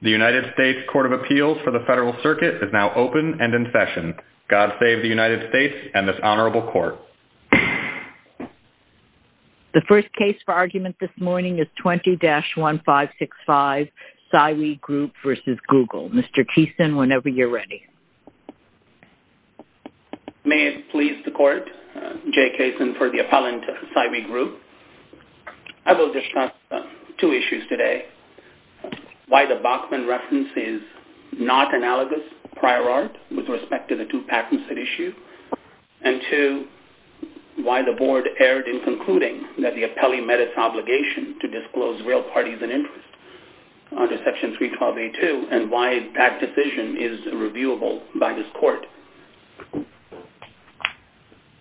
The United States Court of Appeals for the Federal Circuit is now open and in session. God save the United States and this Honorable Court. The first case for argument this morning is 20-1565, Cywee Group v. Google. Mr. Keeson, whenever you're ready. May it please the Court, Jay Keeson for the appellant, Cywee Group. I will discuss two issues today. One, why the Bachman reference is not analogous prior art with respect to the two patents at issue. And two, why the Board erred in concluding that the appellee met its obligation to disclose real parties and interests under Section 312A2 and why that decision is reviewable by this Court.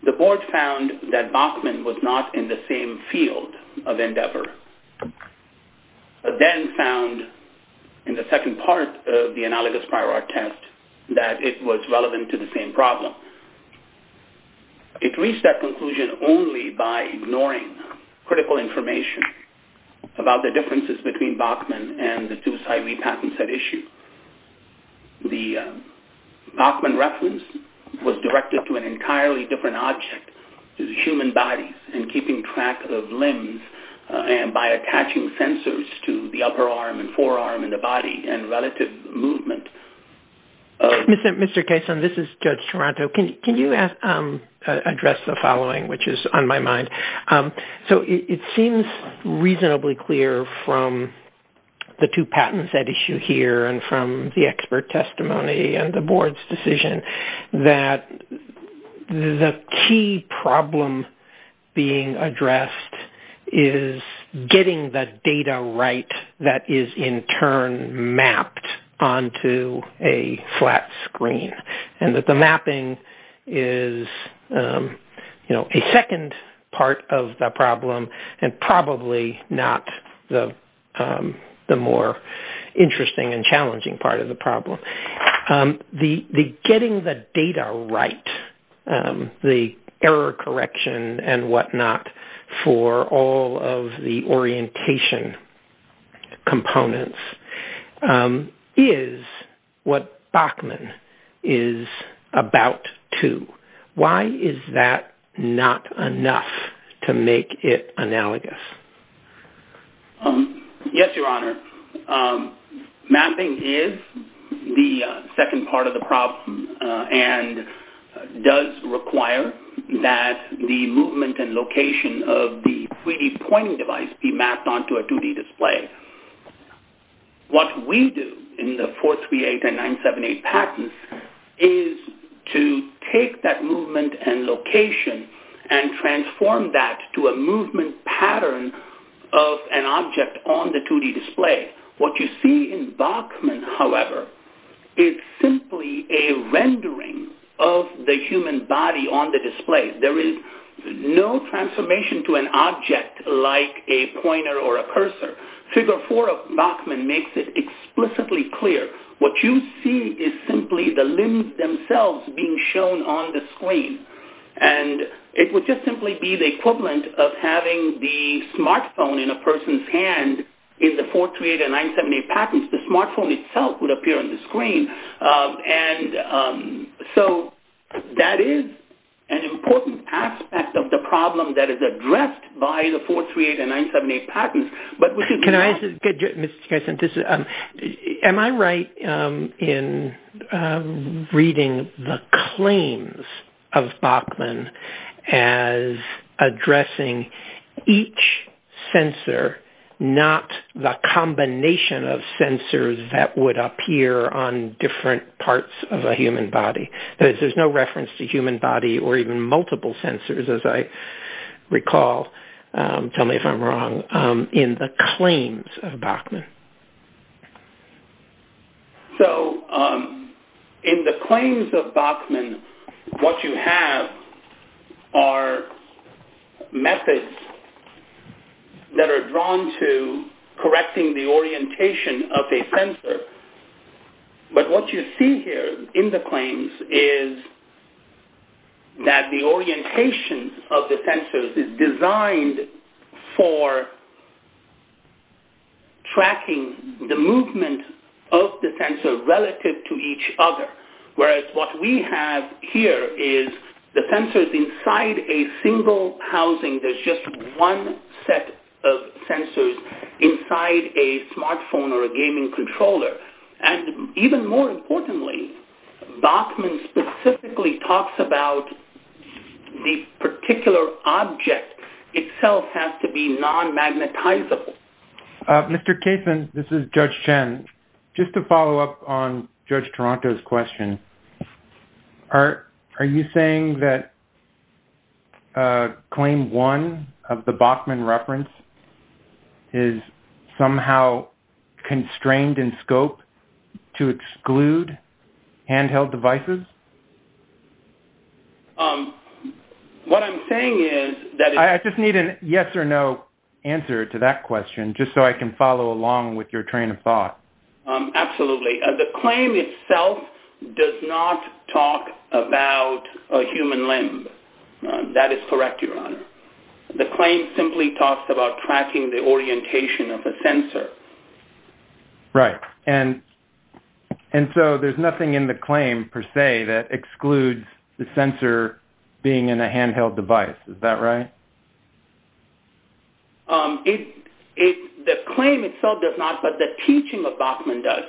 The Board found that Bachman was not in the same field of endeavor, then found in the second part of the analogous prior art test that it was relevant to the same problem. It reached that conclusion only by ignoring critical information about the differences between Bachman and the two Cywee patents at issue. The Bachman reference was directed to an entirely different object, the human body, and keeping track of limbs and by attaching sensors to the upper arm and forearm and the body and relative movement. Mr. Keeson, this is Judge Toronto. Can you address the following, which is on my mind? It seems reasonably clear from the two patents at issue here and from the expert testimony and the Board's decision that the key problem being addressed is getting the data right that is in turn mapped onto a flat screen. And that the mapping is a second part of the problem and probably not the more interesting and challenging part of the problem. Getting the data right, the error correction and whatnot for all of the orientation components is what Bachman is about to. Why is that not enough to make it analogous? Yes, Your Honor. Mapping is the second part of the problem and does require that the movement and location of the 3D pointing device be mapped onto a 2D display. What we do in the 438 and 978 patents is to take that movement and location and transform that to a movement pattern of an object on the 2D display. What you see in Bachman, however, is simply a rendering of the human body on the display. There is no transformation to an object like a pointer or a cursor. Figure 4 of Bachman makes it explicitly clear. What you see is simply the limbs themselves being shown on the screen. And it would just simply be the equivalent of having the smartphone in a person's hand in the 438 and 978 patents. The smartphone itself would appear on the screen. So that is an important aspect of the problem that is addressed by the 438 and 978 patents. Am I right in reading the claims of Bachman as addressing each sensor, not the combination of sensors that would appear on different parts of a human body? There's no reference to human body or even multiple sensors, as I recall. Tell me if I'm wrong. In the claims of Bachman. So, in the claims of Bachman, what you have are methods that are drawn to correcting the orientation of a sensor. But what you see here in the claims is that the orientation of the sensors is designed for tracking the movement of the sensor relative to each other. Whereas what we have here is the sensors inside a single housing. There's just one set of sensors inside a smartphone or a gaming controller. And even more importantly, Bachman specifically talks about the particular object itself has to be non-magnetizable. Mr. Caseman, this is Judge Chen. Just to follow up on Judge Toronto's question, are you saying that Claim 1 of the Bachman reference is somehow constrained in scope to exclude handheld devices? What I'm saying is... I just need a yes or no answer to that question, just so I can follow along with your train of thought. Absolutely. The claim itself does not talk about a human limb. That is correct, Your Honor. The claim simply talks about tracking the orientation of a sensor. Right. And so there's nothing in the claim per se that excludes the sensor being in a handheld device. Is that right? The claim itself does not, but the teaching of Bachman does.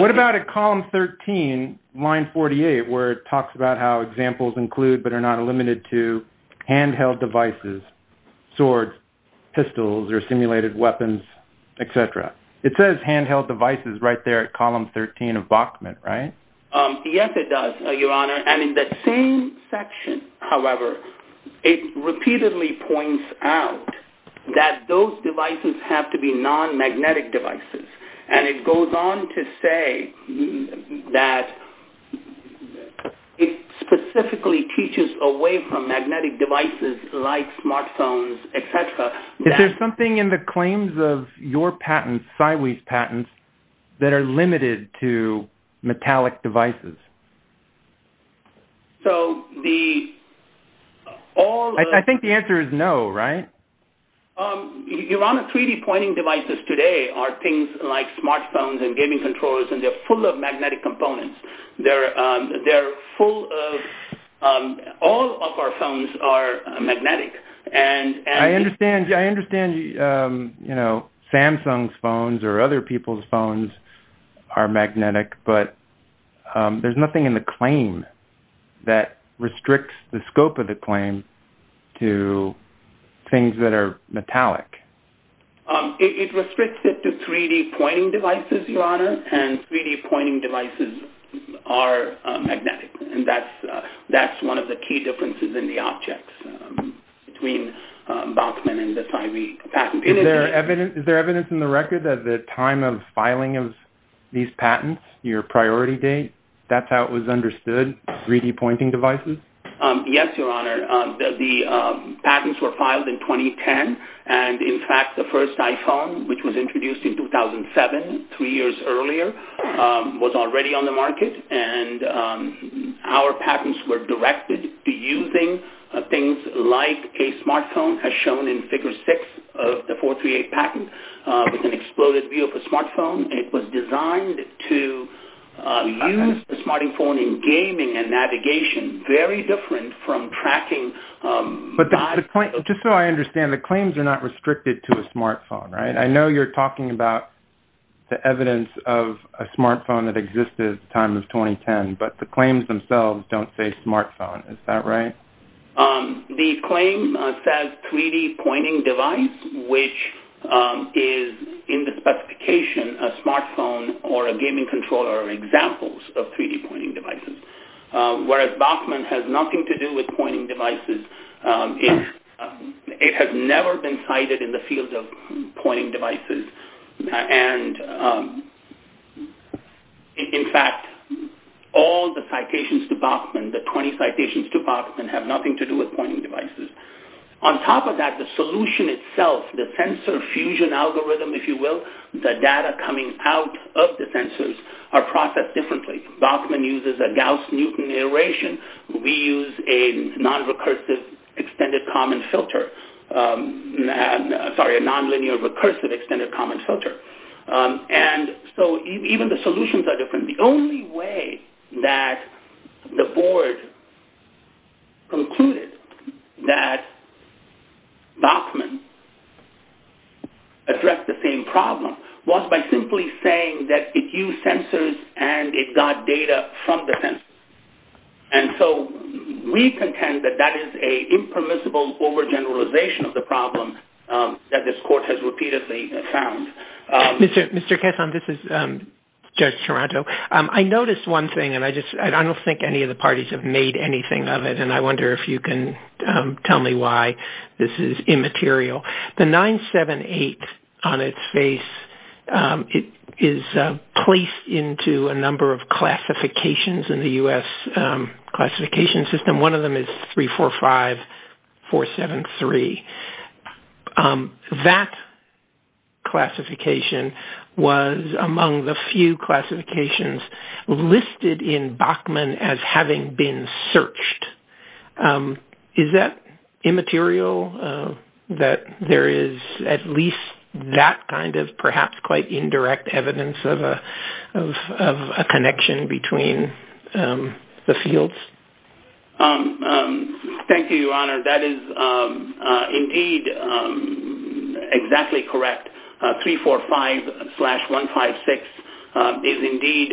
What about at column 13, line 48, where it talks about how examples include but are not limited to handheld devices, swords, pistols, or simulated weapons, etc.? It says handheld devices right there at column 13 of Bachman, right? Yes, it does, Your Honor. And in that same section, however, it repeatedly points out that those devices have to be non-magnetic devices. And it goes on to say that it specifically teaches away from magnetic devices like smartphones, etc. Is there something in the claims of your patents, Siwe's patents, that are limited to metallic devices? I think the answer is no, right? Your Honor, 3D pointing devices today are things like smartphones and gaming controllers, and they're full of magnetic components. All of our phones are magnetic. I understand Samsung's phones or other people's phones are magnetic, but there's nothing in the claim that restricts the scope of the claim to things that are metallic. It restricts it to 3D pointing devices, Your Honor, and 3D pointing devices are magnetic. And that's one of the key differences in the objects between Bachman and the Siwe patent. Is there evidence in the record that the time of filing of these patents, your priority date, that's how it was understood, 3D pointing devices? Yes, Your Honor. The patents were filed in 2010, and in fact the first iPhone, which was introduced in 2007, three years earlier, was already on the market. And our patents were directed to using things like a smartphone, as shown in Figure 6 of the 438 patent, with an exploded view of a smartphone. It was designed to use a smartphone in gaming and navigation, very different from tracking... But the point, just so I understand, the claims are not restricted to a smartphone, right? I know you're talking about the evidence of a smartphone that existed at the time of 2010, but the claims themselves don't say smartphone, is that right? The claim says 3D pointing device, which is in the specification a smartphone or a gaming controller are examples of 3D pointing devices. Whereas Bachman has nothing to do with pointing devices, it has never been cited in the field of pointing devices. And in fact, all the citations to Bachman, the 20 citations to Bachman, have nothing to do with pointing devices. On top of that, the solution itself, the sensor fusion algorithm, if you will, the data coming out of the sensors are processed differently. Bachman uses a Gauss-Newton iteration. We use a non-recursive extended common filter. Sorry, a non-linear recursive extended common filter. And so even the solutions are different. The only way that the board concluded that Bachman addressed the same problem was by simply saying that it used sensors and it got data from the sensors. And so we contend that that is an impermissible overgeneralization of the problem that this court has repeatedly found. Mr. Kesson, this is Judge Toronto. I noticed one thing and I don't think any of the parties have made anything of it and I wonder if you can tell me why this is immaterial. The 978 on its face is placed into a number of classifications in the U.S. classification system. One of them is 345473. That classification was among the few classifications listed in Bachman as having been searched. Is that immaterial that there is at least that kind of perhaps quite indirect evidence of a connection between the fields? Thank you, Your Honor. That is indeed exactly correct. 345-156 is indeed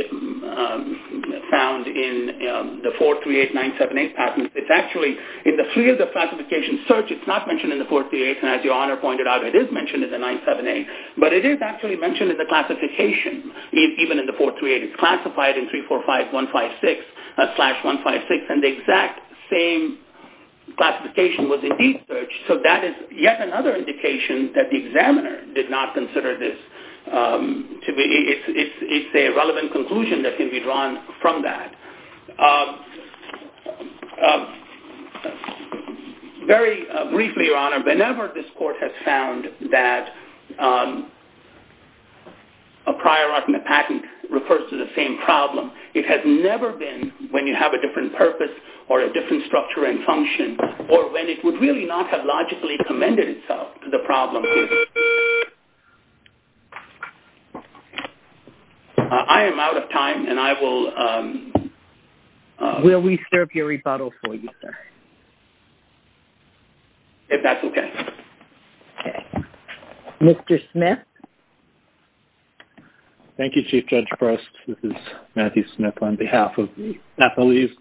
found in the 438-978 patent. It's actually in the three of the classifications searched. It's not mentioned in the 438 and as Your Honor pointed out, it is mentioned in the 978. But it is actually mentioned in the classification even in the 438. It's classified in 345-156 and the exact same classification was indeed searched. That is yet another indication that the examiner did not consider this. It's a relevant conclusion that can be drawn from that. Very briefly, Your Honor, whenever this court has found that a prior art in the patent refers to the same problem, it has never been when you have a different purpose or a different structure and function or when it would really not have logically commended itself to the problem. I am out of time and I will... Will we serve your rebuttal for you, sir? If that's okay. Mr. Smith? Thank you, Chief Judge Prest. This is Matthew Smith on behalf of the athletes.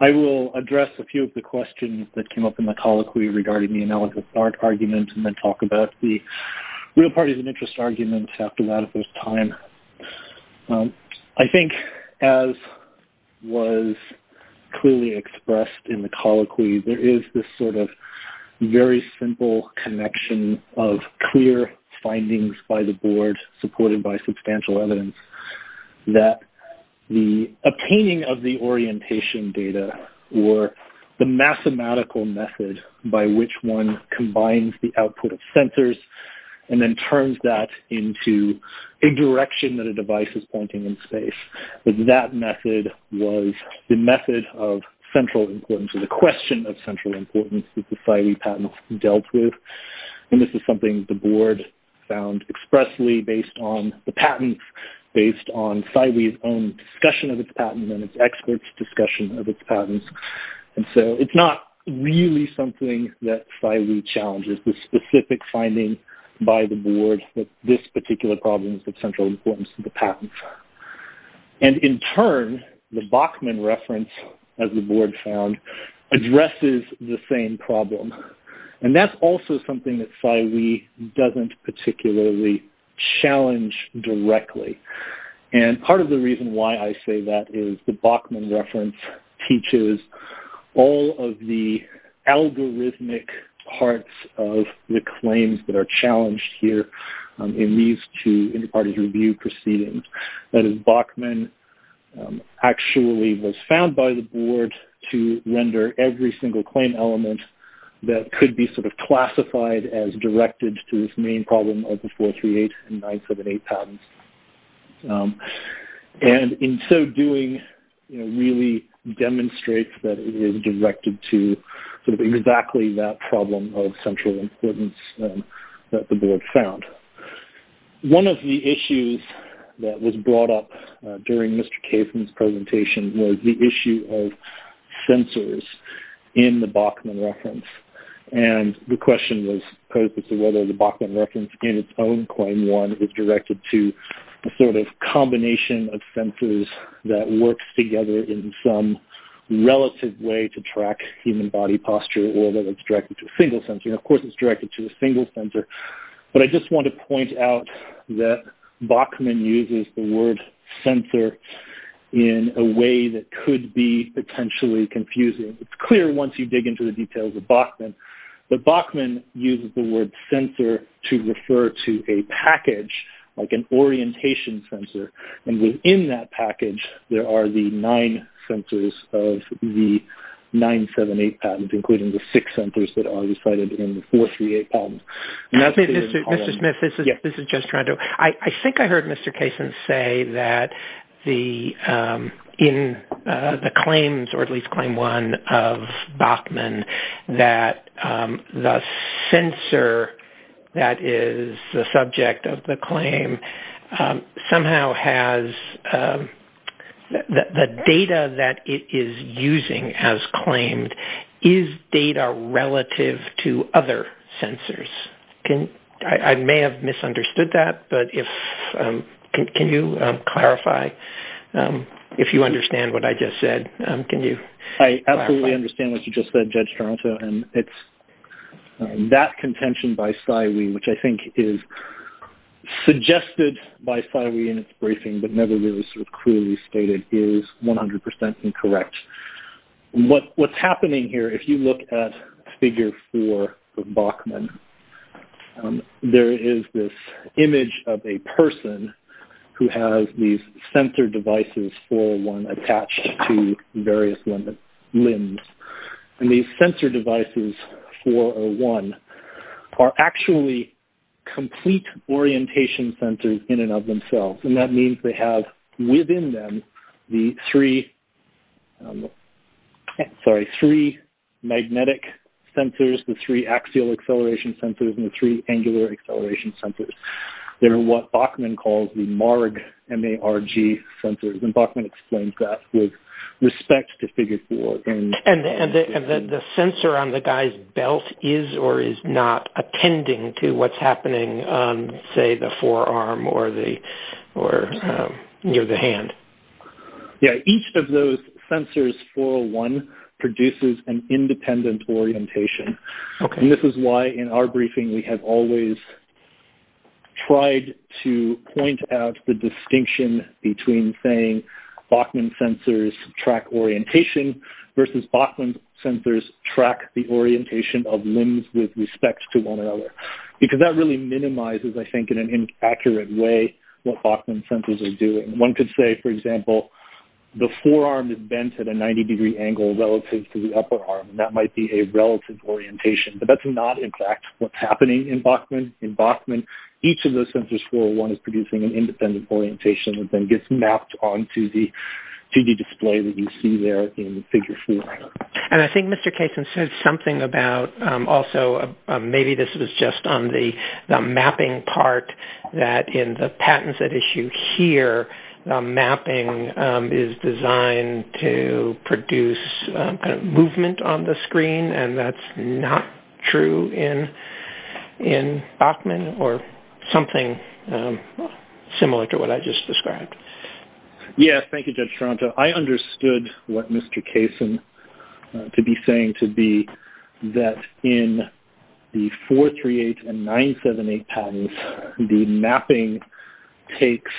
I will address a few of the questions that came up in the colloquy regarding the analogous art argument and then talk about the real parties of interest argument after that if there's time. I think as was clearly expressed in the colloquy, there is this sort of very simple connection of clear findings by the board supported by substantial evidence that the obtaining of the orientation data or the mathematical method by which one combines the output of sensors and then turns that into a direction that a device is pointing in space. That method was the method of central importance, the question of central importance that the SIWEI patent dealt with. And this is something the board found expressly based on the patent, based on SIWEI's own discussion of its patent and its experts' discussion of its patents. And so it's not really something that SIWEI challenges, but it is the specific finding by the board that this particular problem is of central importance to the patent. And in turn, the Bachman reference, as the board found, addresses the same problem. And that's also something that SIWEI doesn't particularly challenge directly. And part of the reason why I say that is the Bachman reference teaches all of the algorithmic parts of the claims that are challenged here in these two inter-parties review proceedings. That is, Bachman actually was found by the board to render every single claim element that could be sort of classified as directed to this main problem of the 438 and 978 patents. And in so doing, it really demonstrates that it is directed to exactly that problem of central importance that the board found. One of the issues that was brought up during Mr. Kaifman's presentation was the issue of sensors in the Bachman reference. And the question was posed as to whether the Bachman reference in its own claim 1 is directed to a sort of combination of sensors that works together in some relative way to track human body posture or whether it's directed to a single sensor. And of course, it's directed to a single sensor. But I just want to point out that Bachman uses the word sensor in a way that could be potentially confusing. It's clear once you dig into the details of Bachman. But Bachman uses the word sensor to refer to a package, like an orientation sensor. And within that package, there are the nine sensors of the 978 patent, including the six sensors that are decided in the 438 patent. Mr. Smith, this is just trying to... I think I heard Mr. Kaifman say that in the claims or at least claim 1 of Bachman that the sensor that is the subject of the claim somehow has... The data that it is using as claimed, is data relative to other sensors? I may have misunderstood that. But can you clarify if you understand what I just said? Can you clarify? I absolutely understand what you just said, Judge Toronto. That contention by Psywee, which I think is suggested by Psywee in its briefing, but never really sort of clearly stated, is 100% incorrect. What's happening here, if you look at figure 4 of Bachman, there is this image of a person who has these sensor devices, 401, attached to various limbs. And these sensor devices, 401, are actually complete orientation sensors in and of themselves. And that means they have within them the three magnetic sensors, the three axial acceleration sensors, and the three angular acceleration sensors. They are what Bachman calls the MARG, M-A-R-G sensors. And Bachman explains that with respect to figure 4. And the sensor on the guy's belt is or is not attending to what's happening on, say, the forearm or near the hand? Yeah. Each of those sensors, 401, produces an independent orientation. And this is why, in our briefing, we have always tried to point out the distinction between saying Bachman sensors track orientation versus Bachman sensors track the orientation of limbs with respect to one another. Because that really minimizes, I think, in an inaccurate way what Bachman sensors are doing. One could say, for example, the forearm is bent at a 90-degree angle relative to the upper arm. And that might be a relative orientation. But that's not, in fact, what's happening in Bachman. In Bachman, each of those sensors, 401, is producing an independent orientation that then gets mapped onto the 2D display that you see there in figure 4. And I think Mr. Kaysen said something about also maybe this was just on the mapping part, that in the patents at issue here, mapping is designed to produce movement on the screen. And that's not true in Bachman or something similar to what I just described. Yes, thank you, Judge Toronto. So I understood what Mr. Kaysen could be saying to be that in the 438 and 978 patents, the mapping takes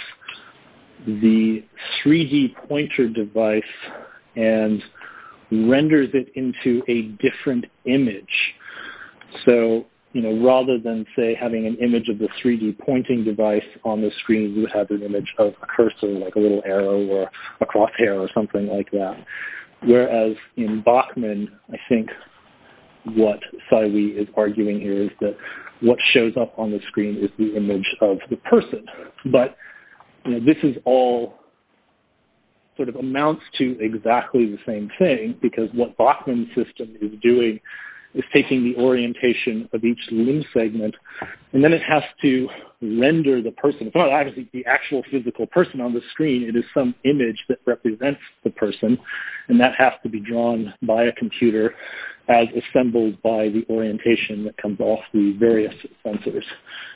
the 3D pointer device and renders it into a different image. So rather than, say, having an image of the 3D pointing device on the screen, you would have an image of a cursor, like a little arrow or a crosshair or something like that. Whereas in Bachman, I think what Saiwee is arguing here is that what shows up on the screen is the image of the person. But this is all sort of amounts to exactly the same thing, because what Bachman's system is doing is taking the orientation of each limb segment, and then it has to render the person. It's not actually the actual physical person on the screen. It is some image that represents the person, and that has to be drawn by a computer as assembled by the orientation that comes off the various sensors.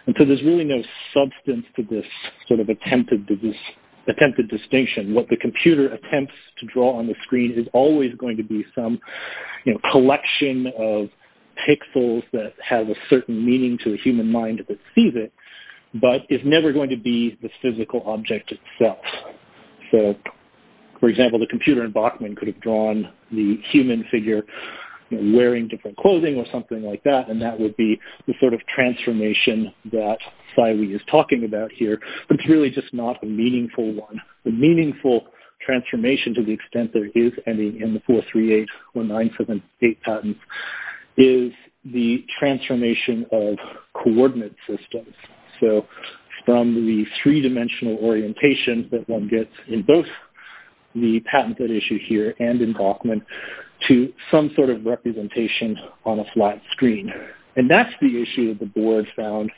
And so there's really no substance to this sort of attempted distinction. What the computer attempts to draw on the screen is always going to be some collection of pixels that have a certain meaning to the human mind that sees it, but is never going to be the physical object itself. So, for example, the computer in Bachman could have drawn the human figure wearing different clothing or something like that, and that would be the sort of transformation that Saiwee is talking about here, but it's really just not a meaningful one. The meaningful transformation, to the extent there is any in the 438 or 978 patents, is the transformation of coordinate systems. So, from the three-dimensional orientation that one gets in both the patented issue here and in Bachman, to some sort of representation on a flat screen. And that's the issue that the board found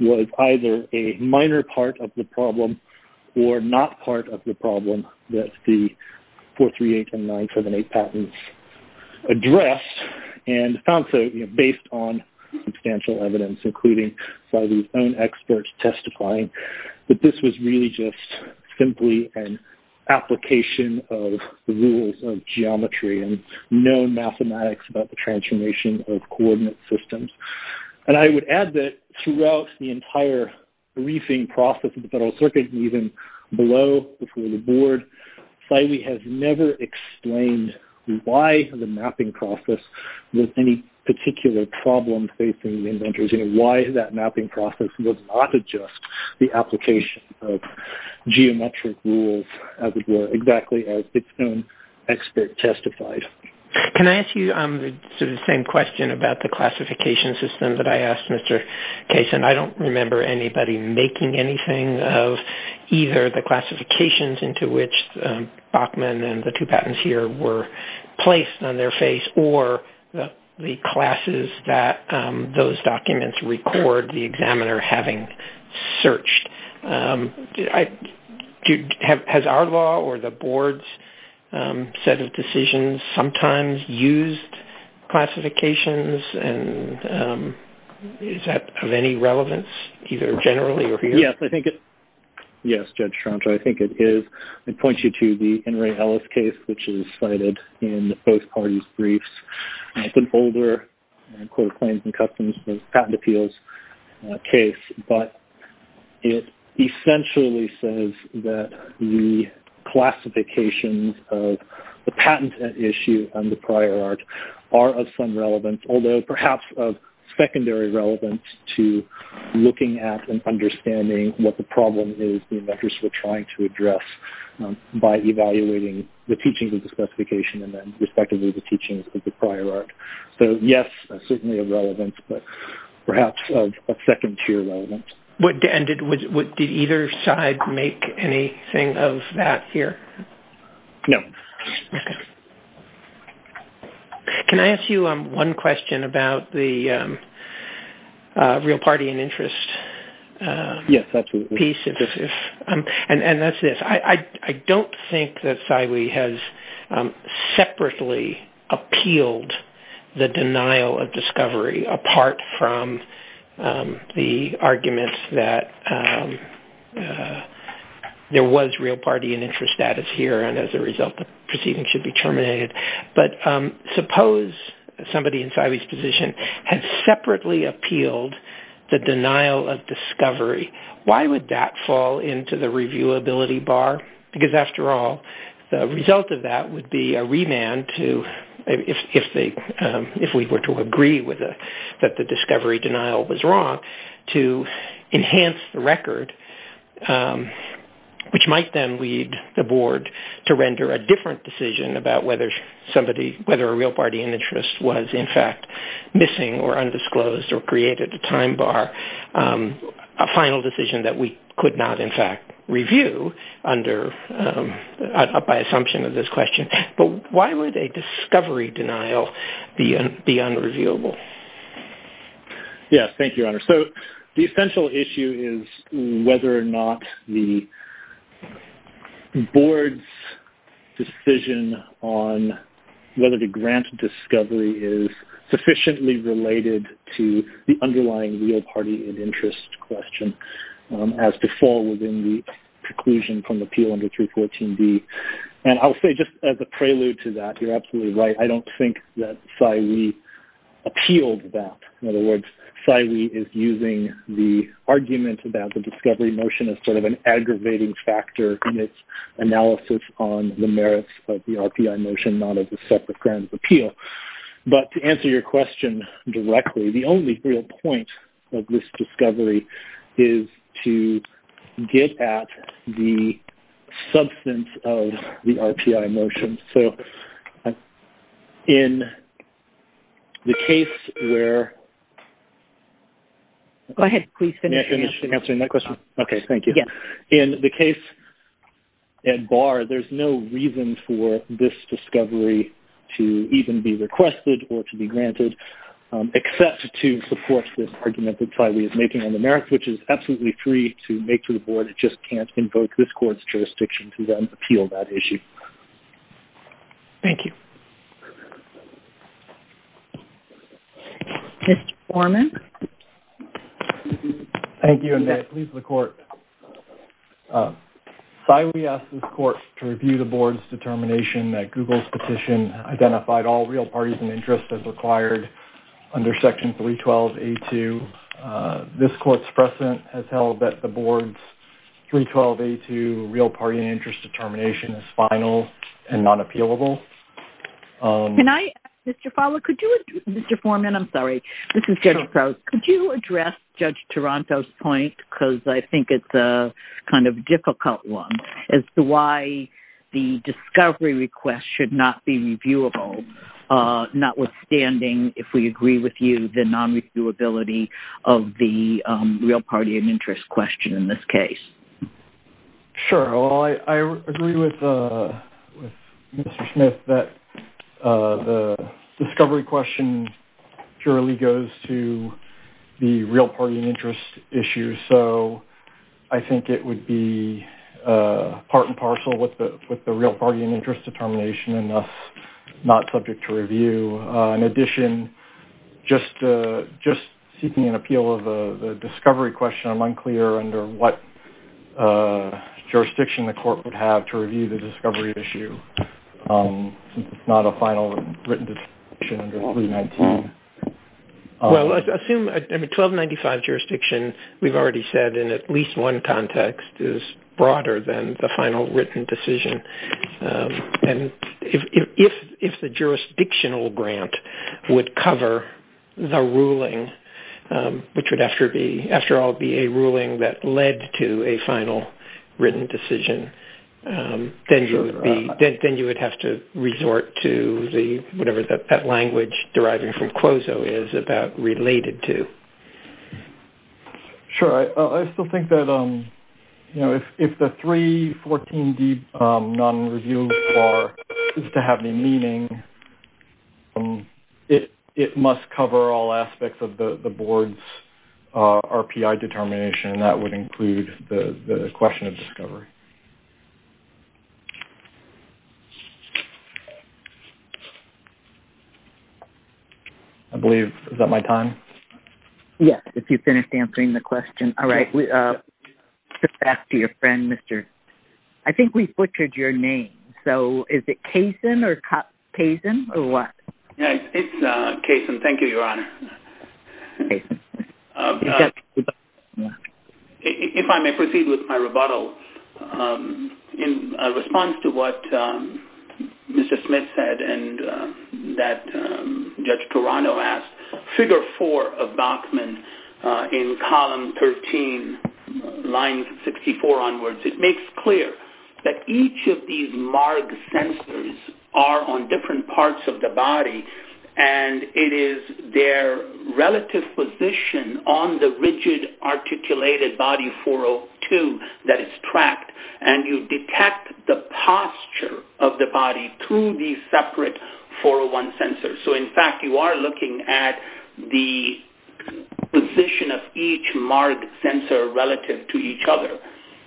was either a minor part of the problem or not part of the problem that the 438 and 978 patents addressed, and found so based on substantial evidence, including Saiwee's own experts testifying, that this was really just simply an application of the rules of geometry and known mathematics about the transformation of coordinate systems. And I would add that throughout the entire briefing process of the Federal Circuit, even below, before the board, Saiwee has never explained why the mapping process was any particular problem facing the inventors, and why that mapping process was not just the application of geometric rules, exactly as its own expert testified. Can I ask you the same question about the classification system that I asked Mr. Kaysen? I don't remember anybody making anything of either the classifications into which Bachman and the two patents here were placed on their face, or the classes that those documents record the examiner having searched. Has our law or the board's set of decisions sometimes used classifications, and is that of any relevance either generally or here? Yes, I think it is. Yes, Judge Troncho, I think it is. I point you to the Henry Ellis case, which is cited in both parties' briefs. It's an older court of claims and customs patent appeals case, but it essentially says that the classifications of the patent issue and the prior art are of some relevance, although perhaps of secondary relevance to looking at and understanding what the problem is the inventors were trying to address by evaluating the teachings of the specification and then respectively the teachings of the prior art. So yes, certainly of relevance, but perhaps of secondary relevance. Did either side make anything of that here? No. Can I ask you one question about the real party and interest piece? Yes, absolutely. And that's this. I don't think that Saiwi has separately appealed the denial of discovery apart from the arguments that there was real party and interest status here, and as a result the proceeding should be terminated. But suppose somebody in Saiwi's position had separately appealed the denial of discovery. Why would that fall into the reviewability bar? Because after all, the result of that would be a remand to, if we were to agree that the discovery denial was wrong, to enhance the record, which might then lead the board to render a different decision about whether a real party and interest was in fact missing or undisclosed or created a time bar, a final decision that we could not in fact review by assumption of this question. But why would a discovery denial be unreviewable? Yes, thank you, Your Honor. So the essential issue is whether or not the board's decision on whether to grant discovery is sufficiently related to the underlying real party and interest question as to fall within the preclusion from the appeal under 314D. And I'll say just as a prelude to that, you're absolutely right, I don't think that Saiwi appealed that. In other words, Saiwi is using the argument about the discovery motion as sort of an aggravating factor in its analysis on the merits of the RPI motion, not as a separate grant of appeal. But to answer your question directly, the only real point of this discovery is to get at the substance of the RPI motion. So in the case where... Go ahead, please finish answering that question. Okay, thank you. In the case at bar, there's no reason for this discovery to even be requested or to be granted except to support this argument that Saiwi is making on the merits, which is absolutely free to make to the board. It just can't invoke this court's jurisdiction to then appeal that issue. Thank you. Mr. Foreman. Thank you, and may it please the court. Saiwi asked this court to review the board's determination that Google's petition identified all real parties and interests as required under Section 312A2. This court's precedent has held that the board's 312A2 real party and interest determination is final and not appealable. Can I ask, Mr. Fowler, could you... Mr. Foreman, I'm sorry. This is Jennifer. Could you address Judge Taranto's point, because I think it's a kind of difficult one, as to why the discovery request should not be reviewable, notwithstanding, if we agree with you, the non-reviewability of the real party and interest question in this case? Sure. Well, I agree with Mr. Smith that the discovery question purely goes to the real party and interest issue, so I think it would be part and parcel with the real party and interest determination, and thus not subject to review. In addition, just seeking an appeal of the discovery question, I'm unclear under what jurisdiction the court would have to review the discovery issue, since it's not a final written decision under 319. Well, let's assume 1295 jurisdiction, we've already said, in at least one context, is broader than the final written decision. And if the jurisdictional grant would cover the ruling, which would, after all, be a ruling that led to a final written decision, then you would have to resort to whatever that language deriving from Quozo is about related to. Sure. I still think that if the 314D non-review bar is to have any meaning, it must cover all aspects of the board's RPI determination, and that would include the question of discovery. I believe, is that my time? Yes, if you finished answering the question. All right. Back to your friend, Mr. I think we butchered your name. So, is it Kaysen or what? It's Kaysen. Thank you, Your Honor. If I may proceed with my rebuttal, in response to what Mr. Smith said and that Judge Torano asked, figure four of Bachman in column 13, line 64 onwards, it makes clear that each of these marked sensors are on different parts of the body, and it is their relative position on the rigid articulated body 402 that is tracked, and you detect the posture of the body through these separate 401 sensors. So, in fact, you are looking at the position of each marked sensor relative to each other.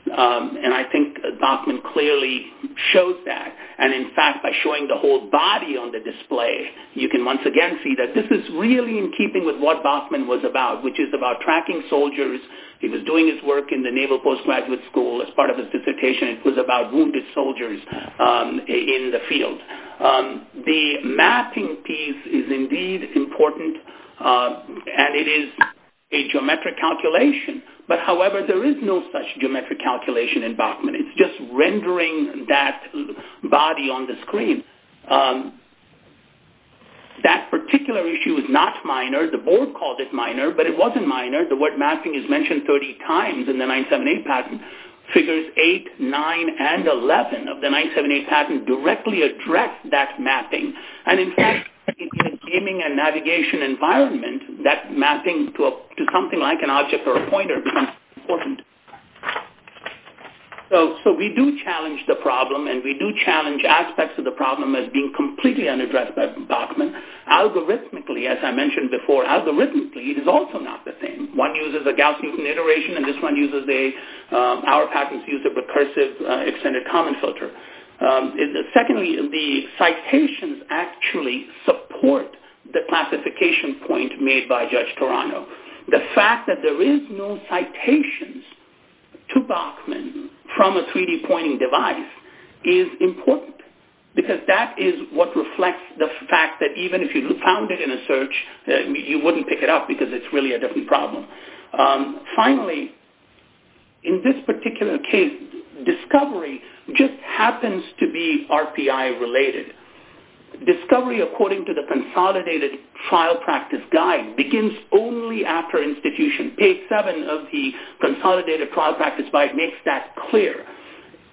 And I think Bachman clearly shows that. And, in fact, by showing the whole body on the display, you can once again see that this is really in keeping with what Bachman was about, which is about tracking soldiers. He was doing his work in the Naval Postgraduate School as part of his dissertation. It was about wounded soldiers in the field. The mapping piece is indeed important, and it is a geometric calculation. But, however, there is no such geometric calculation in Bachman. It's just rendering that body on the screen. That particular issue is not minor. The board called it minor, but it wasn't minor. The word mapping is mentioned 30 times in the 978 patent. Figures 8, 9, and 11 of the 978 patent directly address that mapping. And, in fact, in a gaming and navigation environment, that mapping to something like an object or a pointer becomes important. So, we do challenge the problem, and we do challenge aspects of the problem as being completely unaddressed by Bachman. Algorithmically, as I mentioned before, algorithmically, it is also not the same. One uses a Gauss-Newton iteration, and this one uses a, our patents use a recursive extended common filter. Secondly, the citations actually support the classification point made by Judge Toronto. The fact that there is no citations to Bachman from a 3D pointing device is important because that is what reflects the fact that even if you found it in a search, you wouldn't pick it up because it's really a different problem. Finally, in this particular case, discovery just happens to be RPI related. Discovery according to the consolidated trial practice guide begins only after institution. Page 7 of the consolidated trial practice guide makes that clear.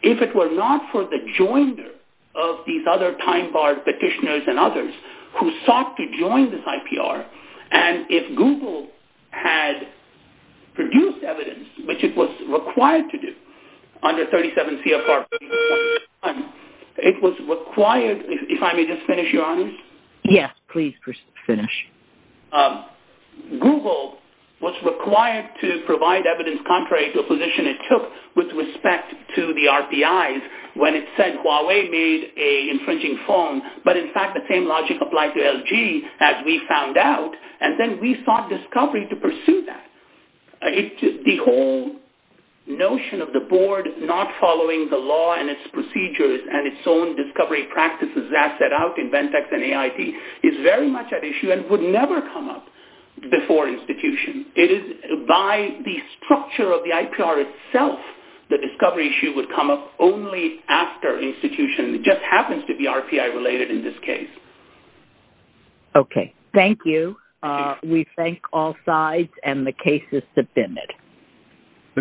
If it were not for the joiner of these other time-barred petitioners and others who sought to join this IPR, and if Google had produced evidence, which it was required to do under 37 CFR 21, it was required, if I may just finish, Your Honor? Yes, please finish. Google was required to provide evidence contrary to a position it took with respect to the RPIs when it said Huawei made an infringing form, but in fact the same logic applied to LG as we found out, and then we sought discovery to pursue that. The whole notion of the board not following the law and its procedures and its own discovery practices as set out in Ventex and AIT is very much at issue and would never come up before institution. By the structure of the IPR itself, the discovery issue would come up only after institution. It just happens to be RPI related in this case. Okay, thank you. We thank all sides, and the case is submitted.